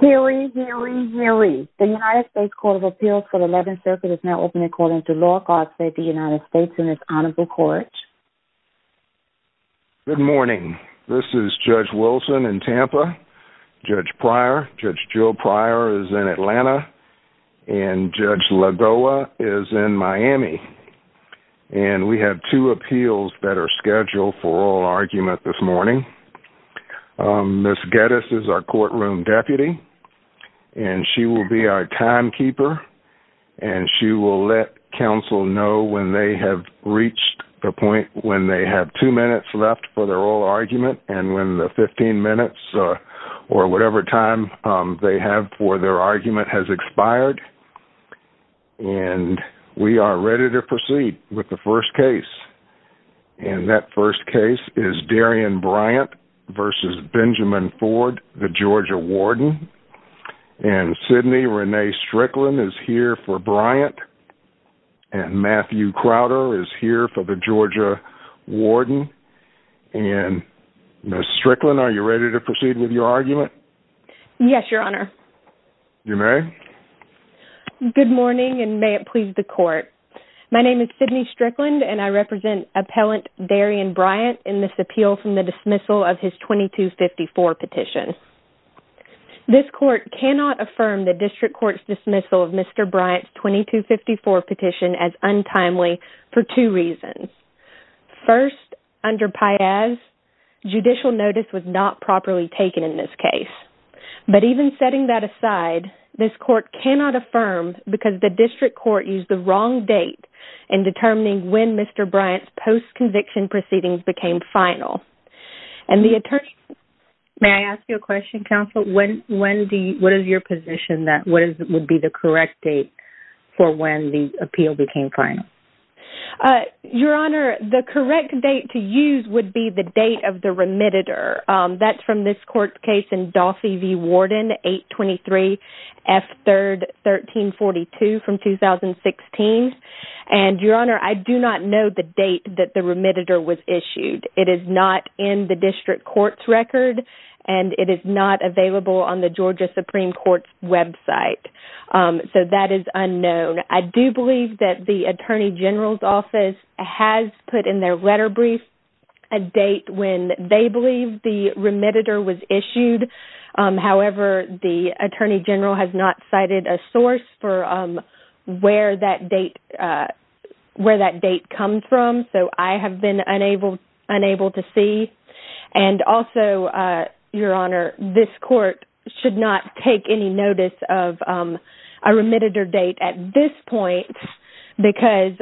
Hear ye, hear ye, hear ye. The United States Court of Appeals for the Eleventh Circuit is now open according to law. God save the United States and its honorable court. Good morning. This is Judge Wilson in Tampa, Judge Pryor, Judge Joe Pryor is in Atlanta, and Judge Lagoa is in Miami. And we have two appeals that are scheduled for oral argument this morning. Ms. Geddes is our courtroom deputy, and she will be our timekeeper. And she will let counsel know when they have reached the point when they have two minutes left for their oral argument and when the 15 minutes or whatever time they have for their argument has expired. And we are ready to proceed with the first case. And that first case is Darrian Bryant v. Benjamin Ford, the Georgia Warden. And Sidney Renee Strickland is here for Bryant. And Matthew Crowder is here for the Georgia Warden. And Ms. Strickland, are you ready to proceed with your argument? Yes, Your Honor. You may. Good morning, and may it please the court. My name is Sidney Strickland, and I represent Appellant Darrian Bryant in this appeal from the dismissal of his 2254 petition. This court cannot affirm the district court's dismissal of Mr. Bryant's 2254 petition as untimely for two reasons. First, under Piaz, judicial notice was not properly taken in this case. But even setting that aside, this court cannot affirm because the district court used the wrong date in determining when Mr. Bryant's post-conviction proceedings became final. And the attorney… May I ask you a question, counsel? What is your position that what would be the correct date for when the appeal became final? Your Honor, the correct date to use would be the date of the remitter. That's from this court case in Dolphy v. Warden, 823 F. 3rd, 1342 from 2016. And, Your Honor, I do not know the date that the remitter was issued. It is not in the district court's record, and it is not available on the Georgia Supreme Court's website. So that is unknown. I do believe that the Attorney General's Office has put in their letter brief a date when they believe the remitter was issued. However, the Attorney General has not cited a source for where that date comes from. So I have been unable to see. And also, Your Honor, this court should not take any notice of a remitter date at this because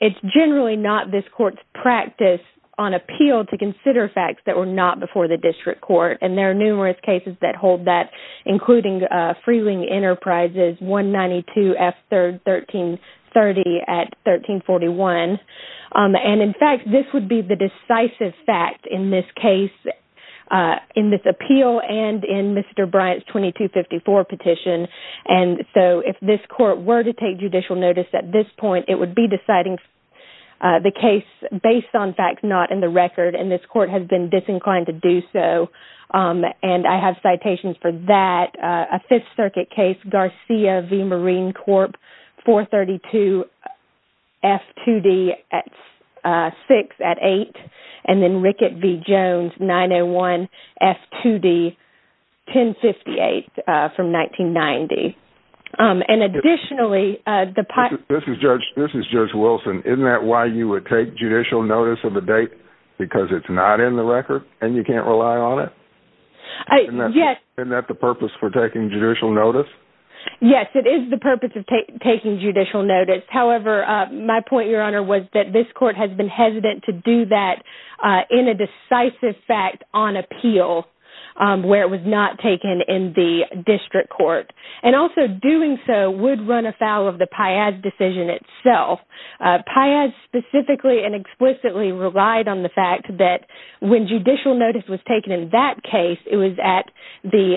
it's generally not this court's practice on appeal to consider facts that were not before the district court. And there are numerous cases that hold that, including Freeling Enterprises, 192 F. 3rd, 1330 at 1341. And in fact, this would be the decisive fact in this case, in this appeal and in Mr. Bryant's 2254 petition. And so if this court were to take judicial notice at this point, it would be deciding the case based on facts not in the record. And this court has been disinclined to do so. And I have citations for that. A Fifth Circuit case, Garcia v. Marine Corp, 432 F. 2d, 6 at 8. And then Rickett v. Jones, 901 F. 2d, 1058 from 1990. And additionally, the part. This is Judge. This is Judge Wilson. Isn't that why you would take judicial notice of a date? Because it's not in the record and you can't rely on it? Yes. Isn't that the purpose for taking judicial notice? Yes, it is the purpose of taking judicial notice. However, my point, Your Honor, was that this court has been hesitant to do that in a decisive fact on appeal where it was not taken in the district court. And also doing so would run afoul of the Piaz decision itself. Piaz specifically and explicitly relied on the fact that when judicial notice was taken in that case, it was at the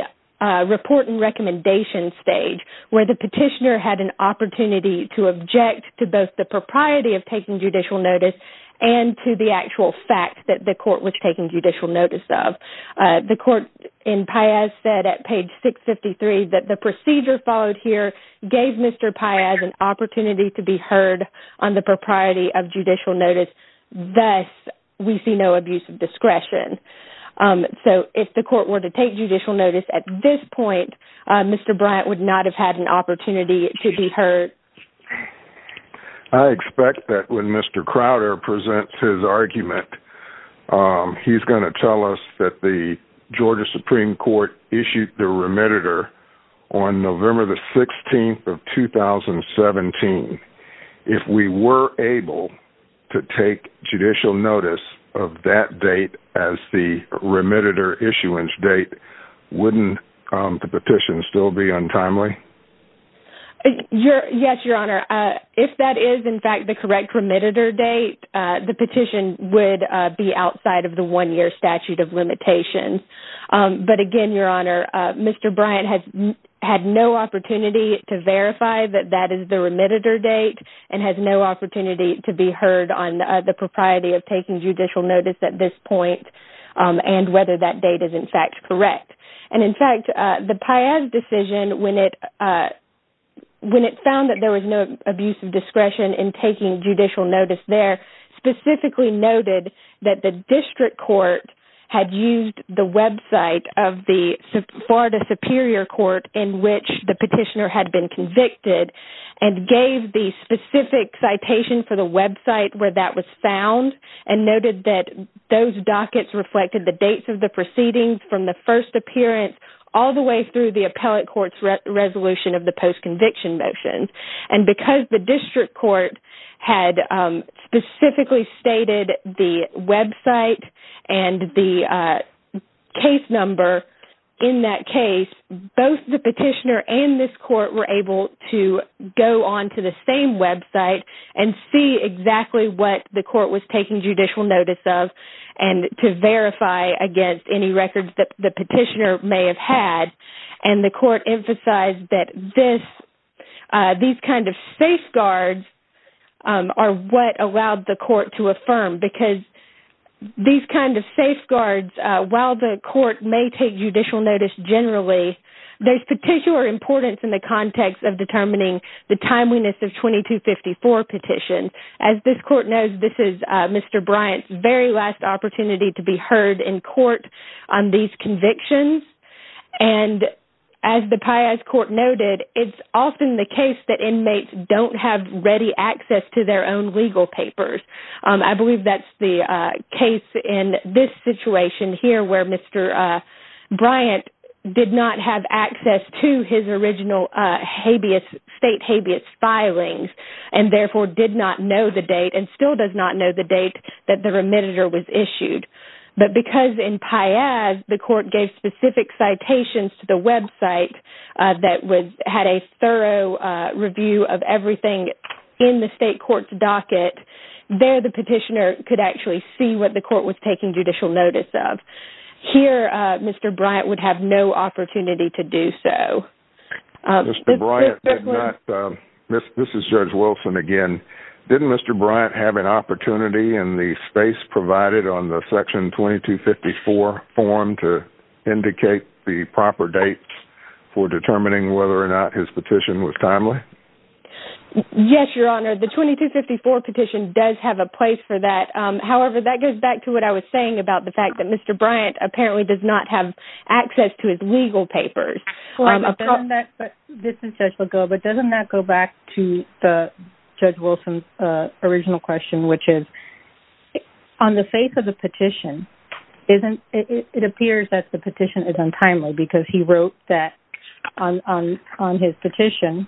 report and recommendation stage where the petitioner had an opportunity to object to both the propriety of taking judicial notice and to the actual fact that the court was taking judicial notice of. The court in Piaz said at page 653 that the procedure followed here gave Mr. Piaz an opportunity to be heard on the propriety of judicial notice. Thus, we see no abuse of discretion. So, if the court were to take judicial notice at this point, Mr. Bryant would not have had an opportunity to be heard. I expect that when Mr. Crowder presents his argument, he's going to tell us that the Georgia Supreme Court issued the remediator on November the 16th of 2017. If we were able to take judicial notice of that date as the remediator issuance date, wouldn't the petition still be untimely? Yes, Your Honor. If that is, in fact, the correct remediator date, the petition would be outside of the one-year statute of limitations. But again, Your Honor, Mr. Bryant has had no opportunity to verify that that is the remediator date and has no opportunity to be heard on the propriety of taking judicial notice at this point and whether that date is, in fact, correct. And in fact, the Piaz decision, when it found that there was no abuse of discretion in taking of the Florida Superior Court in which the petitioner had been convicted and gave the specific citation for the website where that was found and noted that those dockets reflected the dates of the proceedings from the first appearance all the way through the appellate court's resolution of the post-conviction motion. And because the district court had specifically stated the website and the case number in that case, both the petitioner and this court were able to go onto the same website and see exactly what the court was taking judicial notice of and to verify against any records that the petitioner may have had. And the court emphasized that these kind of safeguards are what allowed the court to affirm because these kind of safeguards, while the court may take judicial notice generally, there's particular importance in the context of determining the timeliness of 2254 petitions. As this court knows, this is Mr. Bryant's very last opportunity to be heard in court on these convictions. And as the PIAS court noted, it's often the case that inmates don't have ready access to their own legal papers. I believe that's the case in this situation here where Mr. Bryant did not have access to his original state habeas filings and therefore did not know the date and still does not know the date that the remitter was issued. But because in PIAS, the court gave specific citations to the website that had a thorough review of everything in the state court's docket, there the petitioner could actually see what the court was taking judicial notice of. Here, Mr. Bryant would have no opportunity to do so. This is Judge Wilson again. Didn't Mr. Bryant have an opportunity in the space provided on the section 2254 form to indicate the proper dates for determining whether or not his petition was timely? Yes, Your Honor. The 2254 petition does have a place for that. However, that goes back to what I was saying about the fact that Mr. Bryant apparently does not have access to his legal papers. Doesn't that go back to Judge Wilson's original question, which is on the face of the petition, it appears that the petition is untimely because he wrote that on his petition,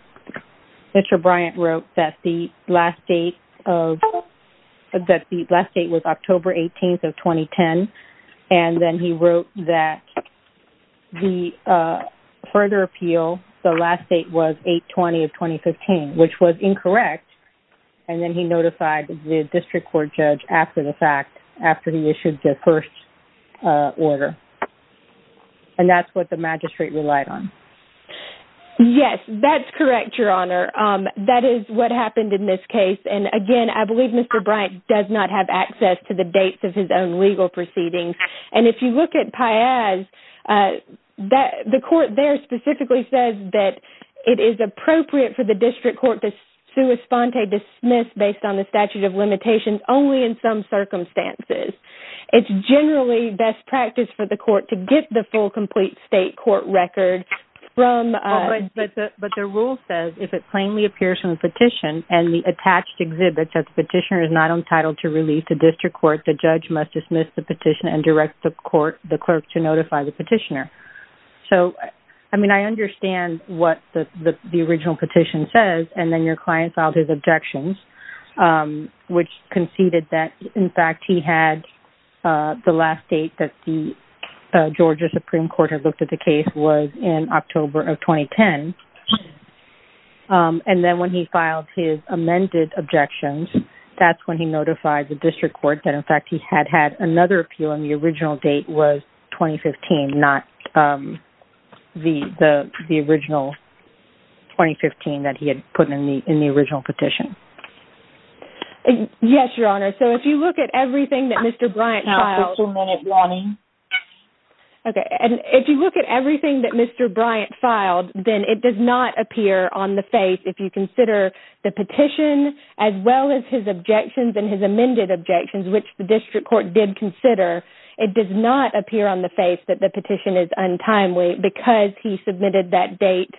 Mr. Bryant wrote that the last date was October 18th of 2010, and then he wrote that the further appeal, the last date was 8-20 of 2015, which was incorrect. And then he notified the district court judge after the fact, after he issued the first order. And that's what the magistrate relied on. Yes, that's correct, Your Honor. That is what happened in this case. And again, I believe Mr. Bryant does not have access to the dates of his own legal proceedings. And if you look at PIAS, the court there specifically says that it is appropriate for the district court to sua sponte dismiss based on the statute of limitations only in some circumstances. It's generally best practice for the court to get the full complete state court record from... But the rule says if it plainly appears from the petition and the attached exhibits that the petitioner is not entitled to release the district court, the judge must dismiss the petition and direct the court, the clerk to notify the petitioner. So, I mean, I understand what the original petition says. And then your client filed his objections, which conceded that, in fact, he had the last date that the Georgia Supreme Court had looked at the case was in October of 2010. And then when he filed his amended objections, that's when he notified the district court that, in fact, he had had another appeal and the original date was 2015, not the original 2015 that he had put in the original petition. Yes, Your Honor. So, if you look at everything that Mr. Bryant filed... You have a two-minute warning. Okay. And if you look at everything that Mr. Bryant filed, then it does not appear on the face if you consider the petition as well as his objections and his amended objections, which the district court did consider. It does not appear on the face that the petition is untimely because he submitted that date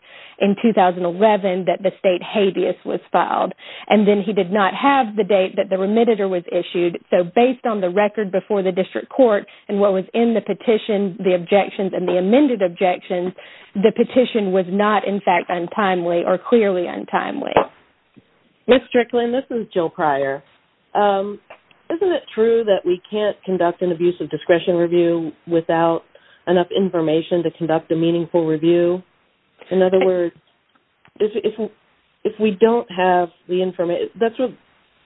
in 2011 that the state habeas was filed. And then he did not have the date that the remediator was issued. So, based on the record before the district court and what was in the petition, the objections and the amended objections, the petition was not, in fact, untimely or clearly untimely. Ms. Strickland, this is Jill Pryor. Isn't it true that we can't conduct an abuse of discretion review without enough information to conduct a meaningful review? In other words, if we don't have the information... That's what...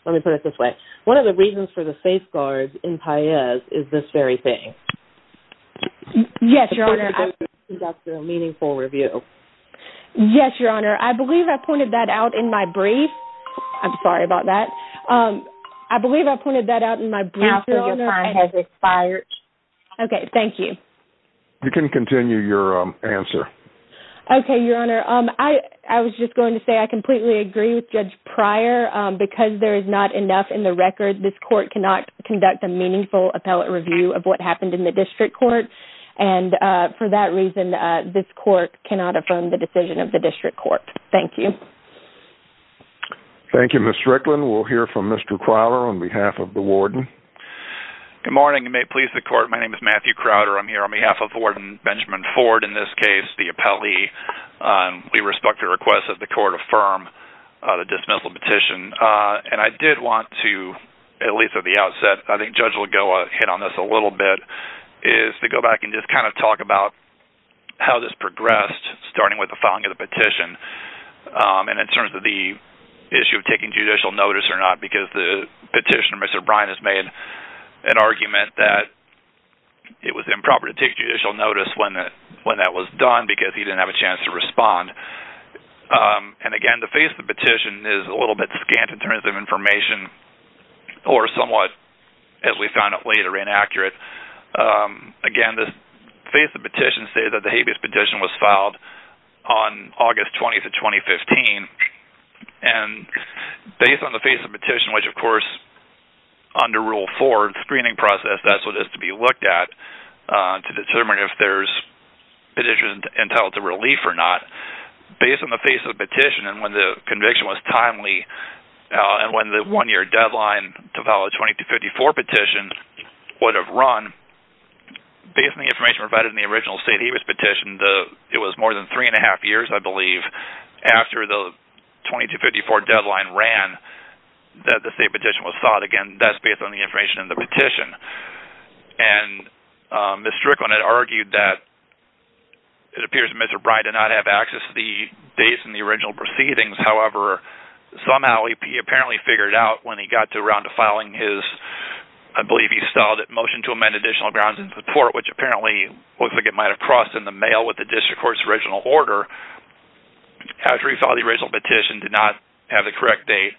Let me put it this way. One of the reasons for the safeguards in Paez is this very thing. Yes, Your Honor. The court cannot conduct a meaningful review. Yes, Your Honor. I believe I pointed that out in my brief. I'm sorry about that. I believe I pointed that out in my brief. Counsel, your time has expired. Okay. Thank you. You can continue your answer. Okay, Your Honor. I was just going to say I completely agree with Judge Pryor. Because there is not enough in the record, this court cannot conduct a meaningful appellate review of what happened in the district court. And for that reason, this court cannot affirm the decision of the district court. Thank you. Thank you, Ms. Strickland. We'll hear from Mr. Crowder on behalf of the warden. Good morning. You may please the court. My name is Matthew Crowder. I'm here on behalf of Warden Benjamin Ford. In this case, the appellee, we respect the request that the court affirm the dismissal petition. And I did want to, at least at the outset, I think Judge Lagoa hit on this a little bit, is to go back and just kind of talk about how this progressed, starting with the filing of the petition. And in terms of the issue of taking judicial notice or not, because the petitioner, Mr. Bryant, has made an argument that it was improper to take judicial notice when that was done because he didn't have a chance to respond. And again, the face of the petition is a little bit scant in terms of information, or somewhat, as we found out later, inaccurate. Again, the face of the petition says that the habeas petition was filed on August 20th of 2015. And based on the face of the petition, which, of course, under Rule 4 screening process, that's what has to be looked at to determine if there's petition entitled to relief or not. Based on the face of the petition, and when the conviction was timely, and when the one year deadline to file a 2254 petition would have run, based on the information provided in the original state habeas petition, it was more than three and a half years, I believe, after the 2254 deadline ran, that the state petition was filed. Again, that's based on the information in the petition. And Ms. Strickland had argued that it appears that Mr. Bryant did not have access to the dates in the original proceedings. However, somehow, he apparently figured out when he got around to filing his, I believe he filed a motion to amend additional grounds and support, which apparently looks like it might have crossed in the mail with the district court's original order. After he filed the original petition, did not have the correct date,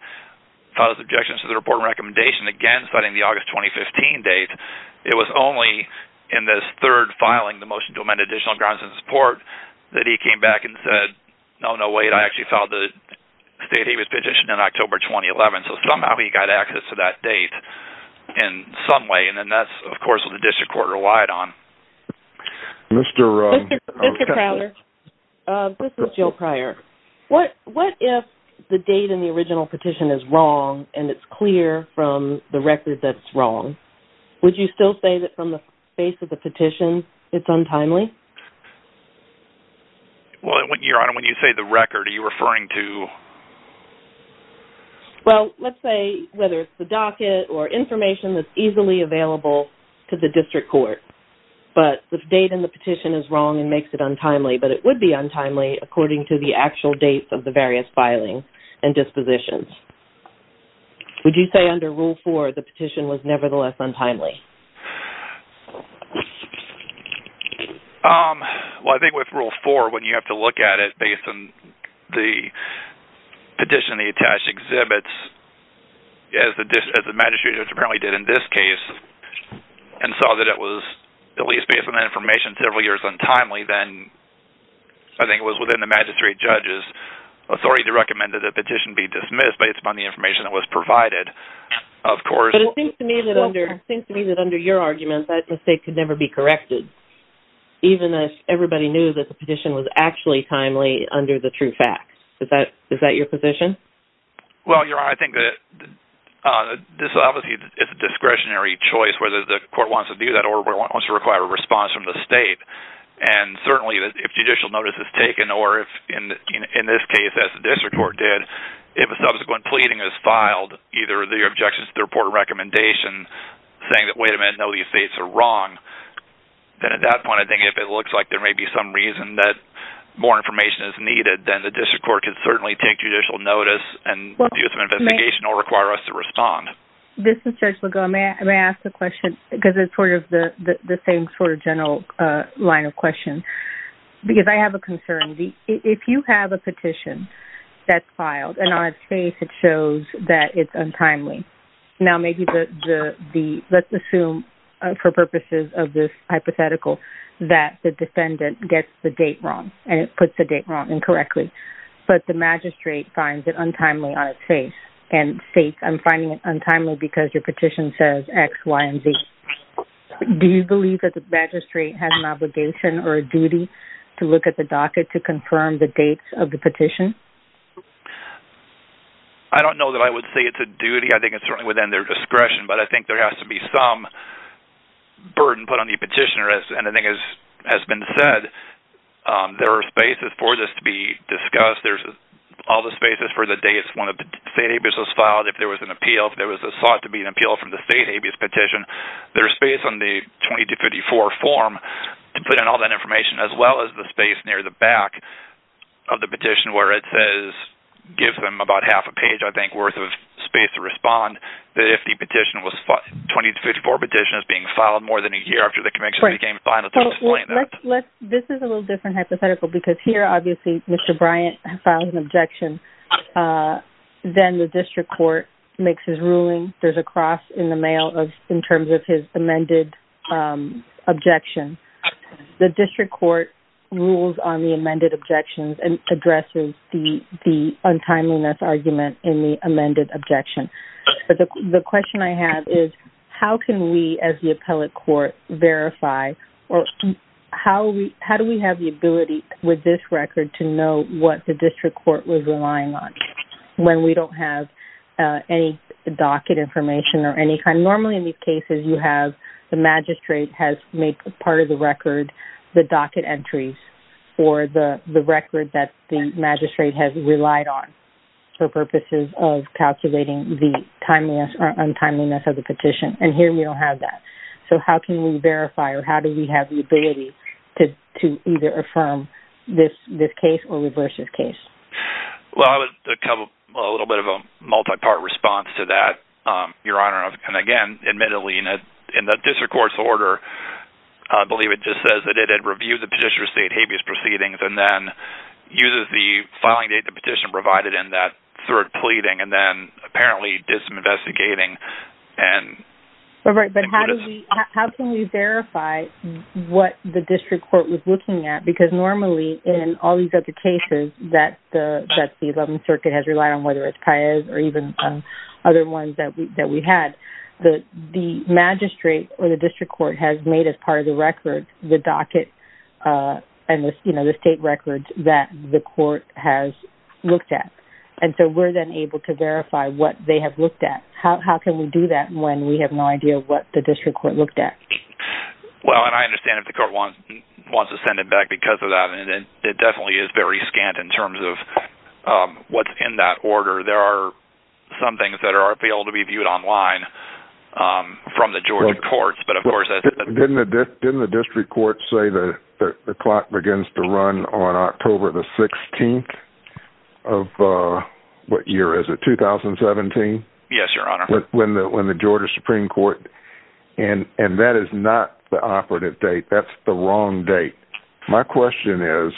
filed his objection to the report and recommendation, again, citing the August 2015 date, it was only in this third filing, the motion to amend additional grounds and support, that he came back and actually filed the state habeas petition in October 2011. So somehow, he got access to that date in some way, and then that's, of course, what the district court relied on. Mr. Prowler. This is Jill Pryor. What if the date in the original petition is wrong and it's clear from the record that it's wrong? Would you still say that from the face of the petition, it's untimely? Well, Your Honor, when you say the record, are you referring to... Well, let's say whether it's the docket or information that's easily available to the district court, but the date in the petition is wrong and makes it untimely, but it would be untimely according to the actual dates of the various filings and dispositions. Would you say under Rule 4, the petition was nevertheless untimely? Well, I think with Rule 4, when you have to look at it based on the petition and the attached exhibits, as the magistrate apparently did in this case, and saw that it was at least based on that information, several years untimely, then I think it was within the magistrate judge's authority to recommend that the petition be dismissed based upon the information that was provided, of course... But it seems to me that under your argument, that mistake could never be corrected, even if everybody knew that the petition was actually timely under the true facts. Is that your position? Well, Your Honor, I think that this obviously is a discretionary choice, whether the court wants to do that or wants to require a response from the state. And certainly, if judicial notice is taken, or if in this case, as the district court did, if a subsequent pleading is filed, either the objections to the report or recommendation, saying that, wait a minute, no, these states are wrong, then at that point, I think if it looks like there may be some reason that more information is needed, then the district court can certainly take judicial notice and abuse of investigation or require us to respond. This is Judge Legault. May I ask a question? Because it's sort of the same sort of general line of question. Because I have a concern. If you have a petition that's filed, and on its face it shows that it's untimely, now maybe the... Let's assume, for purposes of this hypothetical, that the defendant gets the date wrong, and it puts the date wrong incorrectly. But the magistrate finds it untimely on its face, and states, I'm finding it untimely because your petition says X, Y, and Z. Do you believe that the magistrate has an obligation or a duty to look at the docket to confirm the dates of the petition? I don't know that I would say it's a duty. I think it's certainly within their discretion. But I think there has to be some burden put on the petitioner. And I think as has been said, there are spaces for this to be discussed. There's all the spaces for the dates when a state abuse was filed. If there was an appeal, if there was sought to be an appeal from the state abuse petition, there's space on the 20-54 form to put in all that information, as well as the space near the back of the petition where it says, gives them about half a page, I think, worth of space to respond. That if the petition was... 20-54 petition is being filed more than a year after the conviction became final to explain that. This is a little different hypothetical, because here, obviously, Mr. Bryant filed an objection. Then the district court makes his ruling. There's a cross in the mail in terms of his amended objection. The district court rules on the amended objections and addresses the untimeliness argument in the amended objection. The question I have is, how can we, as the appellate court, verify or how do we have the ability with this record to know what the district court was relying on when we don't have any docket information or any kind? Normally, in these cases, you have the magistrate has made part of the record the docket entries or the record that the magistrate has relied on for purposes of calculating the timeliness or untimeliness of the petition. Here, we don't have that. How can we verify or how do we have the ability to either affirm this case or reverse this case? Well, a little bit of a multi-part response to that, Your Honor. Again, admittedly, in the district court's order, I believe it just says that it had reviewed the petitioner's state habeas proceedings and then uses the filing date the petitioner provided in that third pleading and then apparently did some investigating. All right. But how can we verify what the district court was looking at? Because normally, in all these other cases that the 11th Circuit has relied on, whether it's Paez or even other ones that we had, the magistrate or the district court has made as part of the record the docket and the state records that the court has looked at. And so we're then able to verify what they have looked at. How can we do that when we have no idea what the district court looked at? Well, and I understand if the court wants to send it back because of that, and it definitely is very scant in terms of what's in that order. There are some things that are able to be viewed online from the Georgia courts, but of course- Didn't the district court say that the clock begins to run on October the 16th of, what year is it, 2017? Yes, Your Honor. When the Georgia Supreme Court- and that is not the operative date. That's the wrong date. My question is,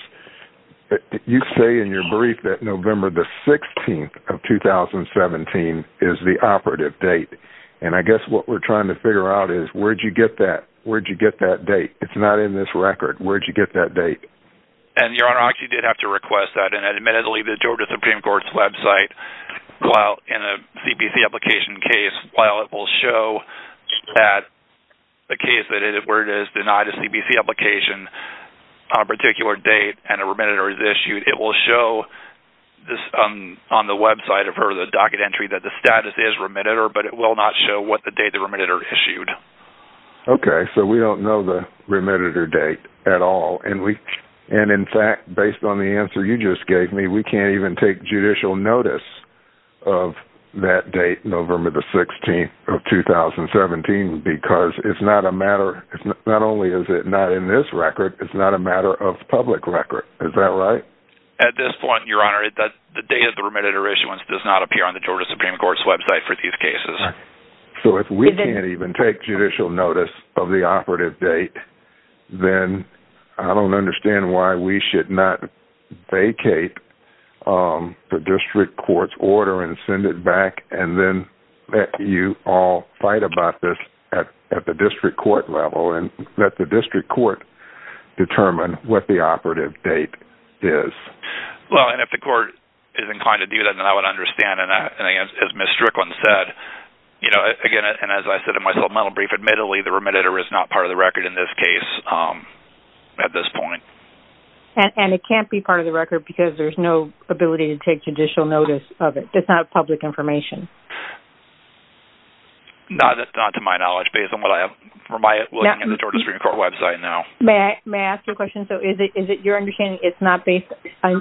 you say in your brief that November the 16th of 2017 is the operative date. And I guess what we're trying to figure out is, where'd you get that? Where'd you get that date? It's not in this record. Where'd you get that date? And Your Honor, I actually did have to request that. Admittedly, the Georgia Supreme Court's website, while in a CBC application case, while it will show that the case where it is denied a CBC application on a particular date and a remediator is issued, it will show on the website of her, the docket entry, that the status is remediator, but it will not show what the date the remediator issued. Okay, so we don't know the remediator date at all. And in fact, based on the answer you just gave me, we can't even take judicial notice of that date, November the 16th of 2017, because it's not a matter- not only is it not in this record, it's not a matter of public record. Is that right? At this point, Your Honor, the date of the remediator issuance does not appear on the Georgia Supreme Court's website for these cases. So if we can't even take judicial notice of the operative date, then I don't understand why we should not vacate the district court's order and send it back and then let you all fight about this at the district court level and let the district court determine what the operative date is. Well, and if the court is inclined to do that, then I would understand. And as Ms. Strickland said, you know, again, and as I said in my supplemental brief, admittedly, the remediator is not part of the record in this case at this point. And it can't be part of the record because there's no ability to take judicial notice of it. It's not public information. Not to my knowledge, based on what I have from my looking at the Georgia Supreme Court website now. May I ask you a question? So is it your understanding it's not based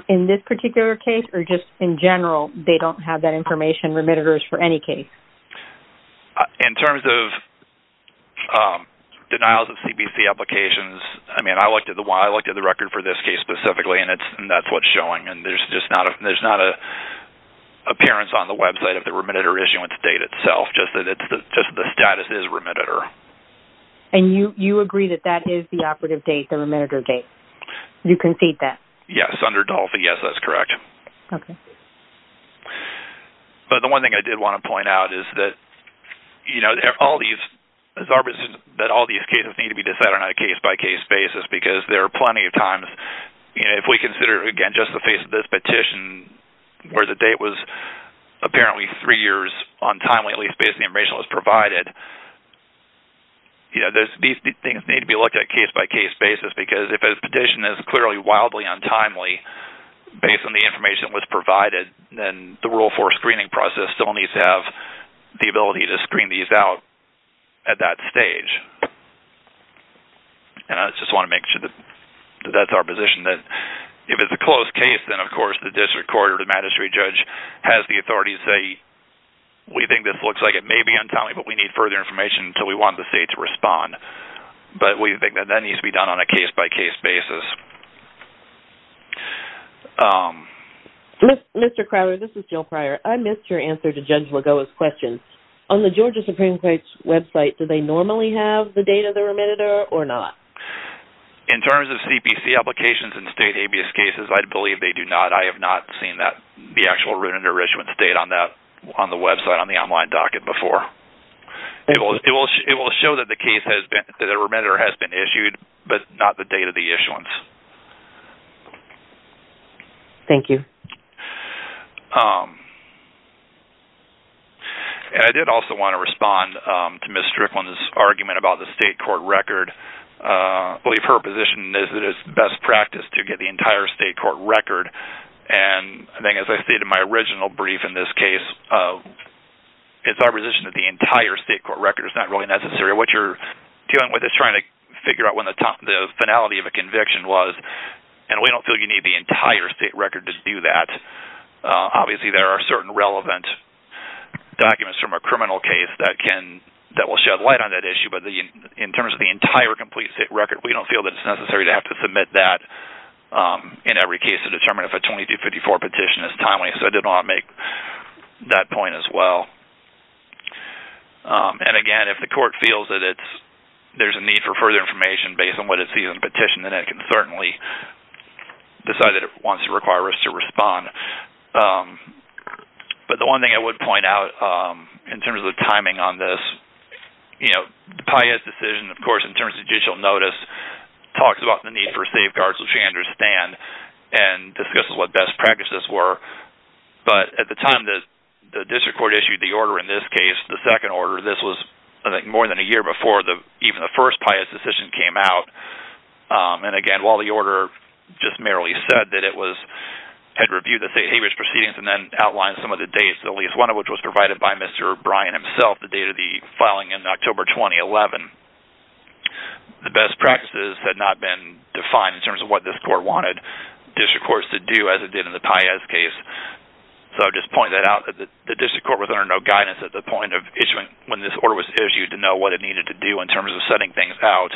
in this particular case or just in general they don't have that information, remediators for any case? In terms of denials of CBC applications, I mean, I looked at the record for this case specifically and that's what's showing. And there's just not an appearance on the website of the remediator issuance date itself, just that the status is remediator. And you agree that that is the operative date, the remediator date? You concede that? Yes. Under DALFA, yes, that's correct. Okay. But the one thing I did want to point out is that all these cases need to be decided on a case-by-case basis because there are plenty of times if we consider, again, just the face of this petition where the date was apparently three years untimely, at least based on the information that was provided, these things need to be looked at case-by-case basis because if a petition is clearly wildly untimely based on the information that was provided, then the Rule 4 screening process still needs to have the ability to screen these out at that stage. And I just want to make sure that that's our position, that if it's a closed case, then of course the district court or the magistrate judge has the authority to say, we think this looks like it may be untimely but we need further information until we want the state to respond. But we think that that needs to be done on a case-by-case basis. Mr. Crowder, this is Jill Pryor. I missed your answer to Judge Lagoa's question. On the Georgia Supreme Court's website, do they normally have the date of the remitted or not? In terms of CPC applications and state habeas cases, I believe they do not. I have not seen that, the actual Rooted in Richmond's date on that, on the website, on the online docket before. It will show that the remitted has been issued but not the date of the issuance. Thank you. And I did also want to respond to Ms. Strickland's argument about the state court record. I believe her position is that it's best practice to get the entire state court record. And I think as I stated in my original brief in this case, it's our position that the entire state court record is not really necessary. What you're dealing with is trying to figure out when the finality of a conviction was and we don't feel you need the entire state record to do that. Obviously, there are certain relevant documents from a criminal case that will shed light on that issue. But in terms of the entire complete state record, we don't feel that it's necessary to have to submit that in every case to determine if a 2254 petition is timely. So, I did want to make that point as well. And again, if the court feels that there's a need for further information based on what it sees in the petition, then it can certainly decide that it wants to require us to respond. But the one thing I would point out in terms of timing on this, the Pius decision, of course, in terms of judicial notice, talks about the need for safeguards, which we understand, and discusses what best practices were. But at the time that the district court issued the order in this case, the second order, this was, I think, more than a year before even the first Pius decision came out. And again, while the order just merely said that it had reviewed the state habeas proceedings and then outlined some of the dates, at least one of which was provided by Mr. Bryan himself, the date of the filing in October 2011, the best practices had not been defined in terms of what this court wanted district courts to do as it did in the Pius case. So, I just point that out that the district court was under no guidance at the point of issuing when this order was issued to know what it needed to do in terms of setting things out,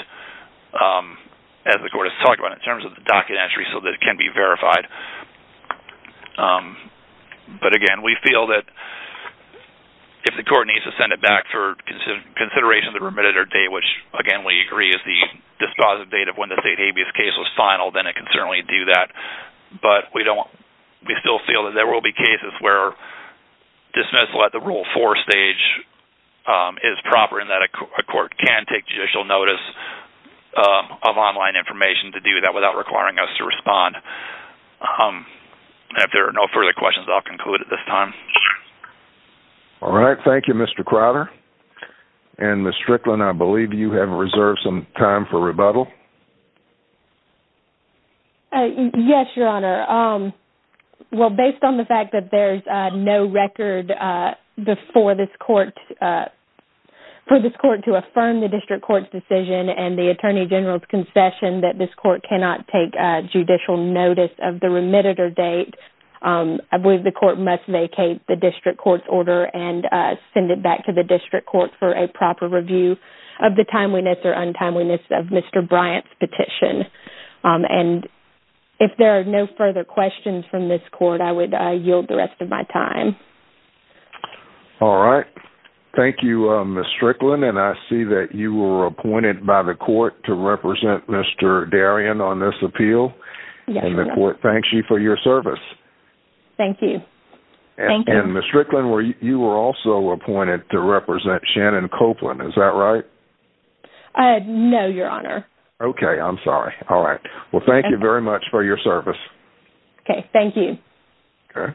as the court has talked about, in terms of the docket entry so that it can be verified. But, again, we feel that if the court needs to send it back for consideration of the remitted or date, which, again, we agree is the dispositive date of when the state habeas case was final, then it can certainly do that. But we don't, we still feel that there will be cases where dismissal at the Rule 4 stage is proper in that a court can take judicial notice of online information to do that without requiring us to respond. And if there are no further questions, I'll conclude at this time. All right. Thank you, Mr. Crowder. And, Ms. Strickland, I believe you have reserved some time for rebuttal. Yes, Your Honor. Well, based on the fact that there's no record before this court, for this court to affirm the district court's decision and the Attorney General's concession that this court cannot take judicial notice of the remitted or date, I believe the court must vacate the district court's order and send it back to the district court for a proper review of the timeliness or untimeliness of Mr. Bryant's petition. And if there are no further questions from this court, I would yield the rest of my time. All right. Thank you, Ms. Strickland. And I see that you were appointed by the court to represent Mr. Darien on this appeal. And the court thanks you for your service. Thank you. And, Ms. Strickland, you were also appointed to represent Shannon Copeland. Is that right? No, Your Honor. Okay. I'm sorry. All right. Well, thank you very much for your service. Okay. Thank you. Okay.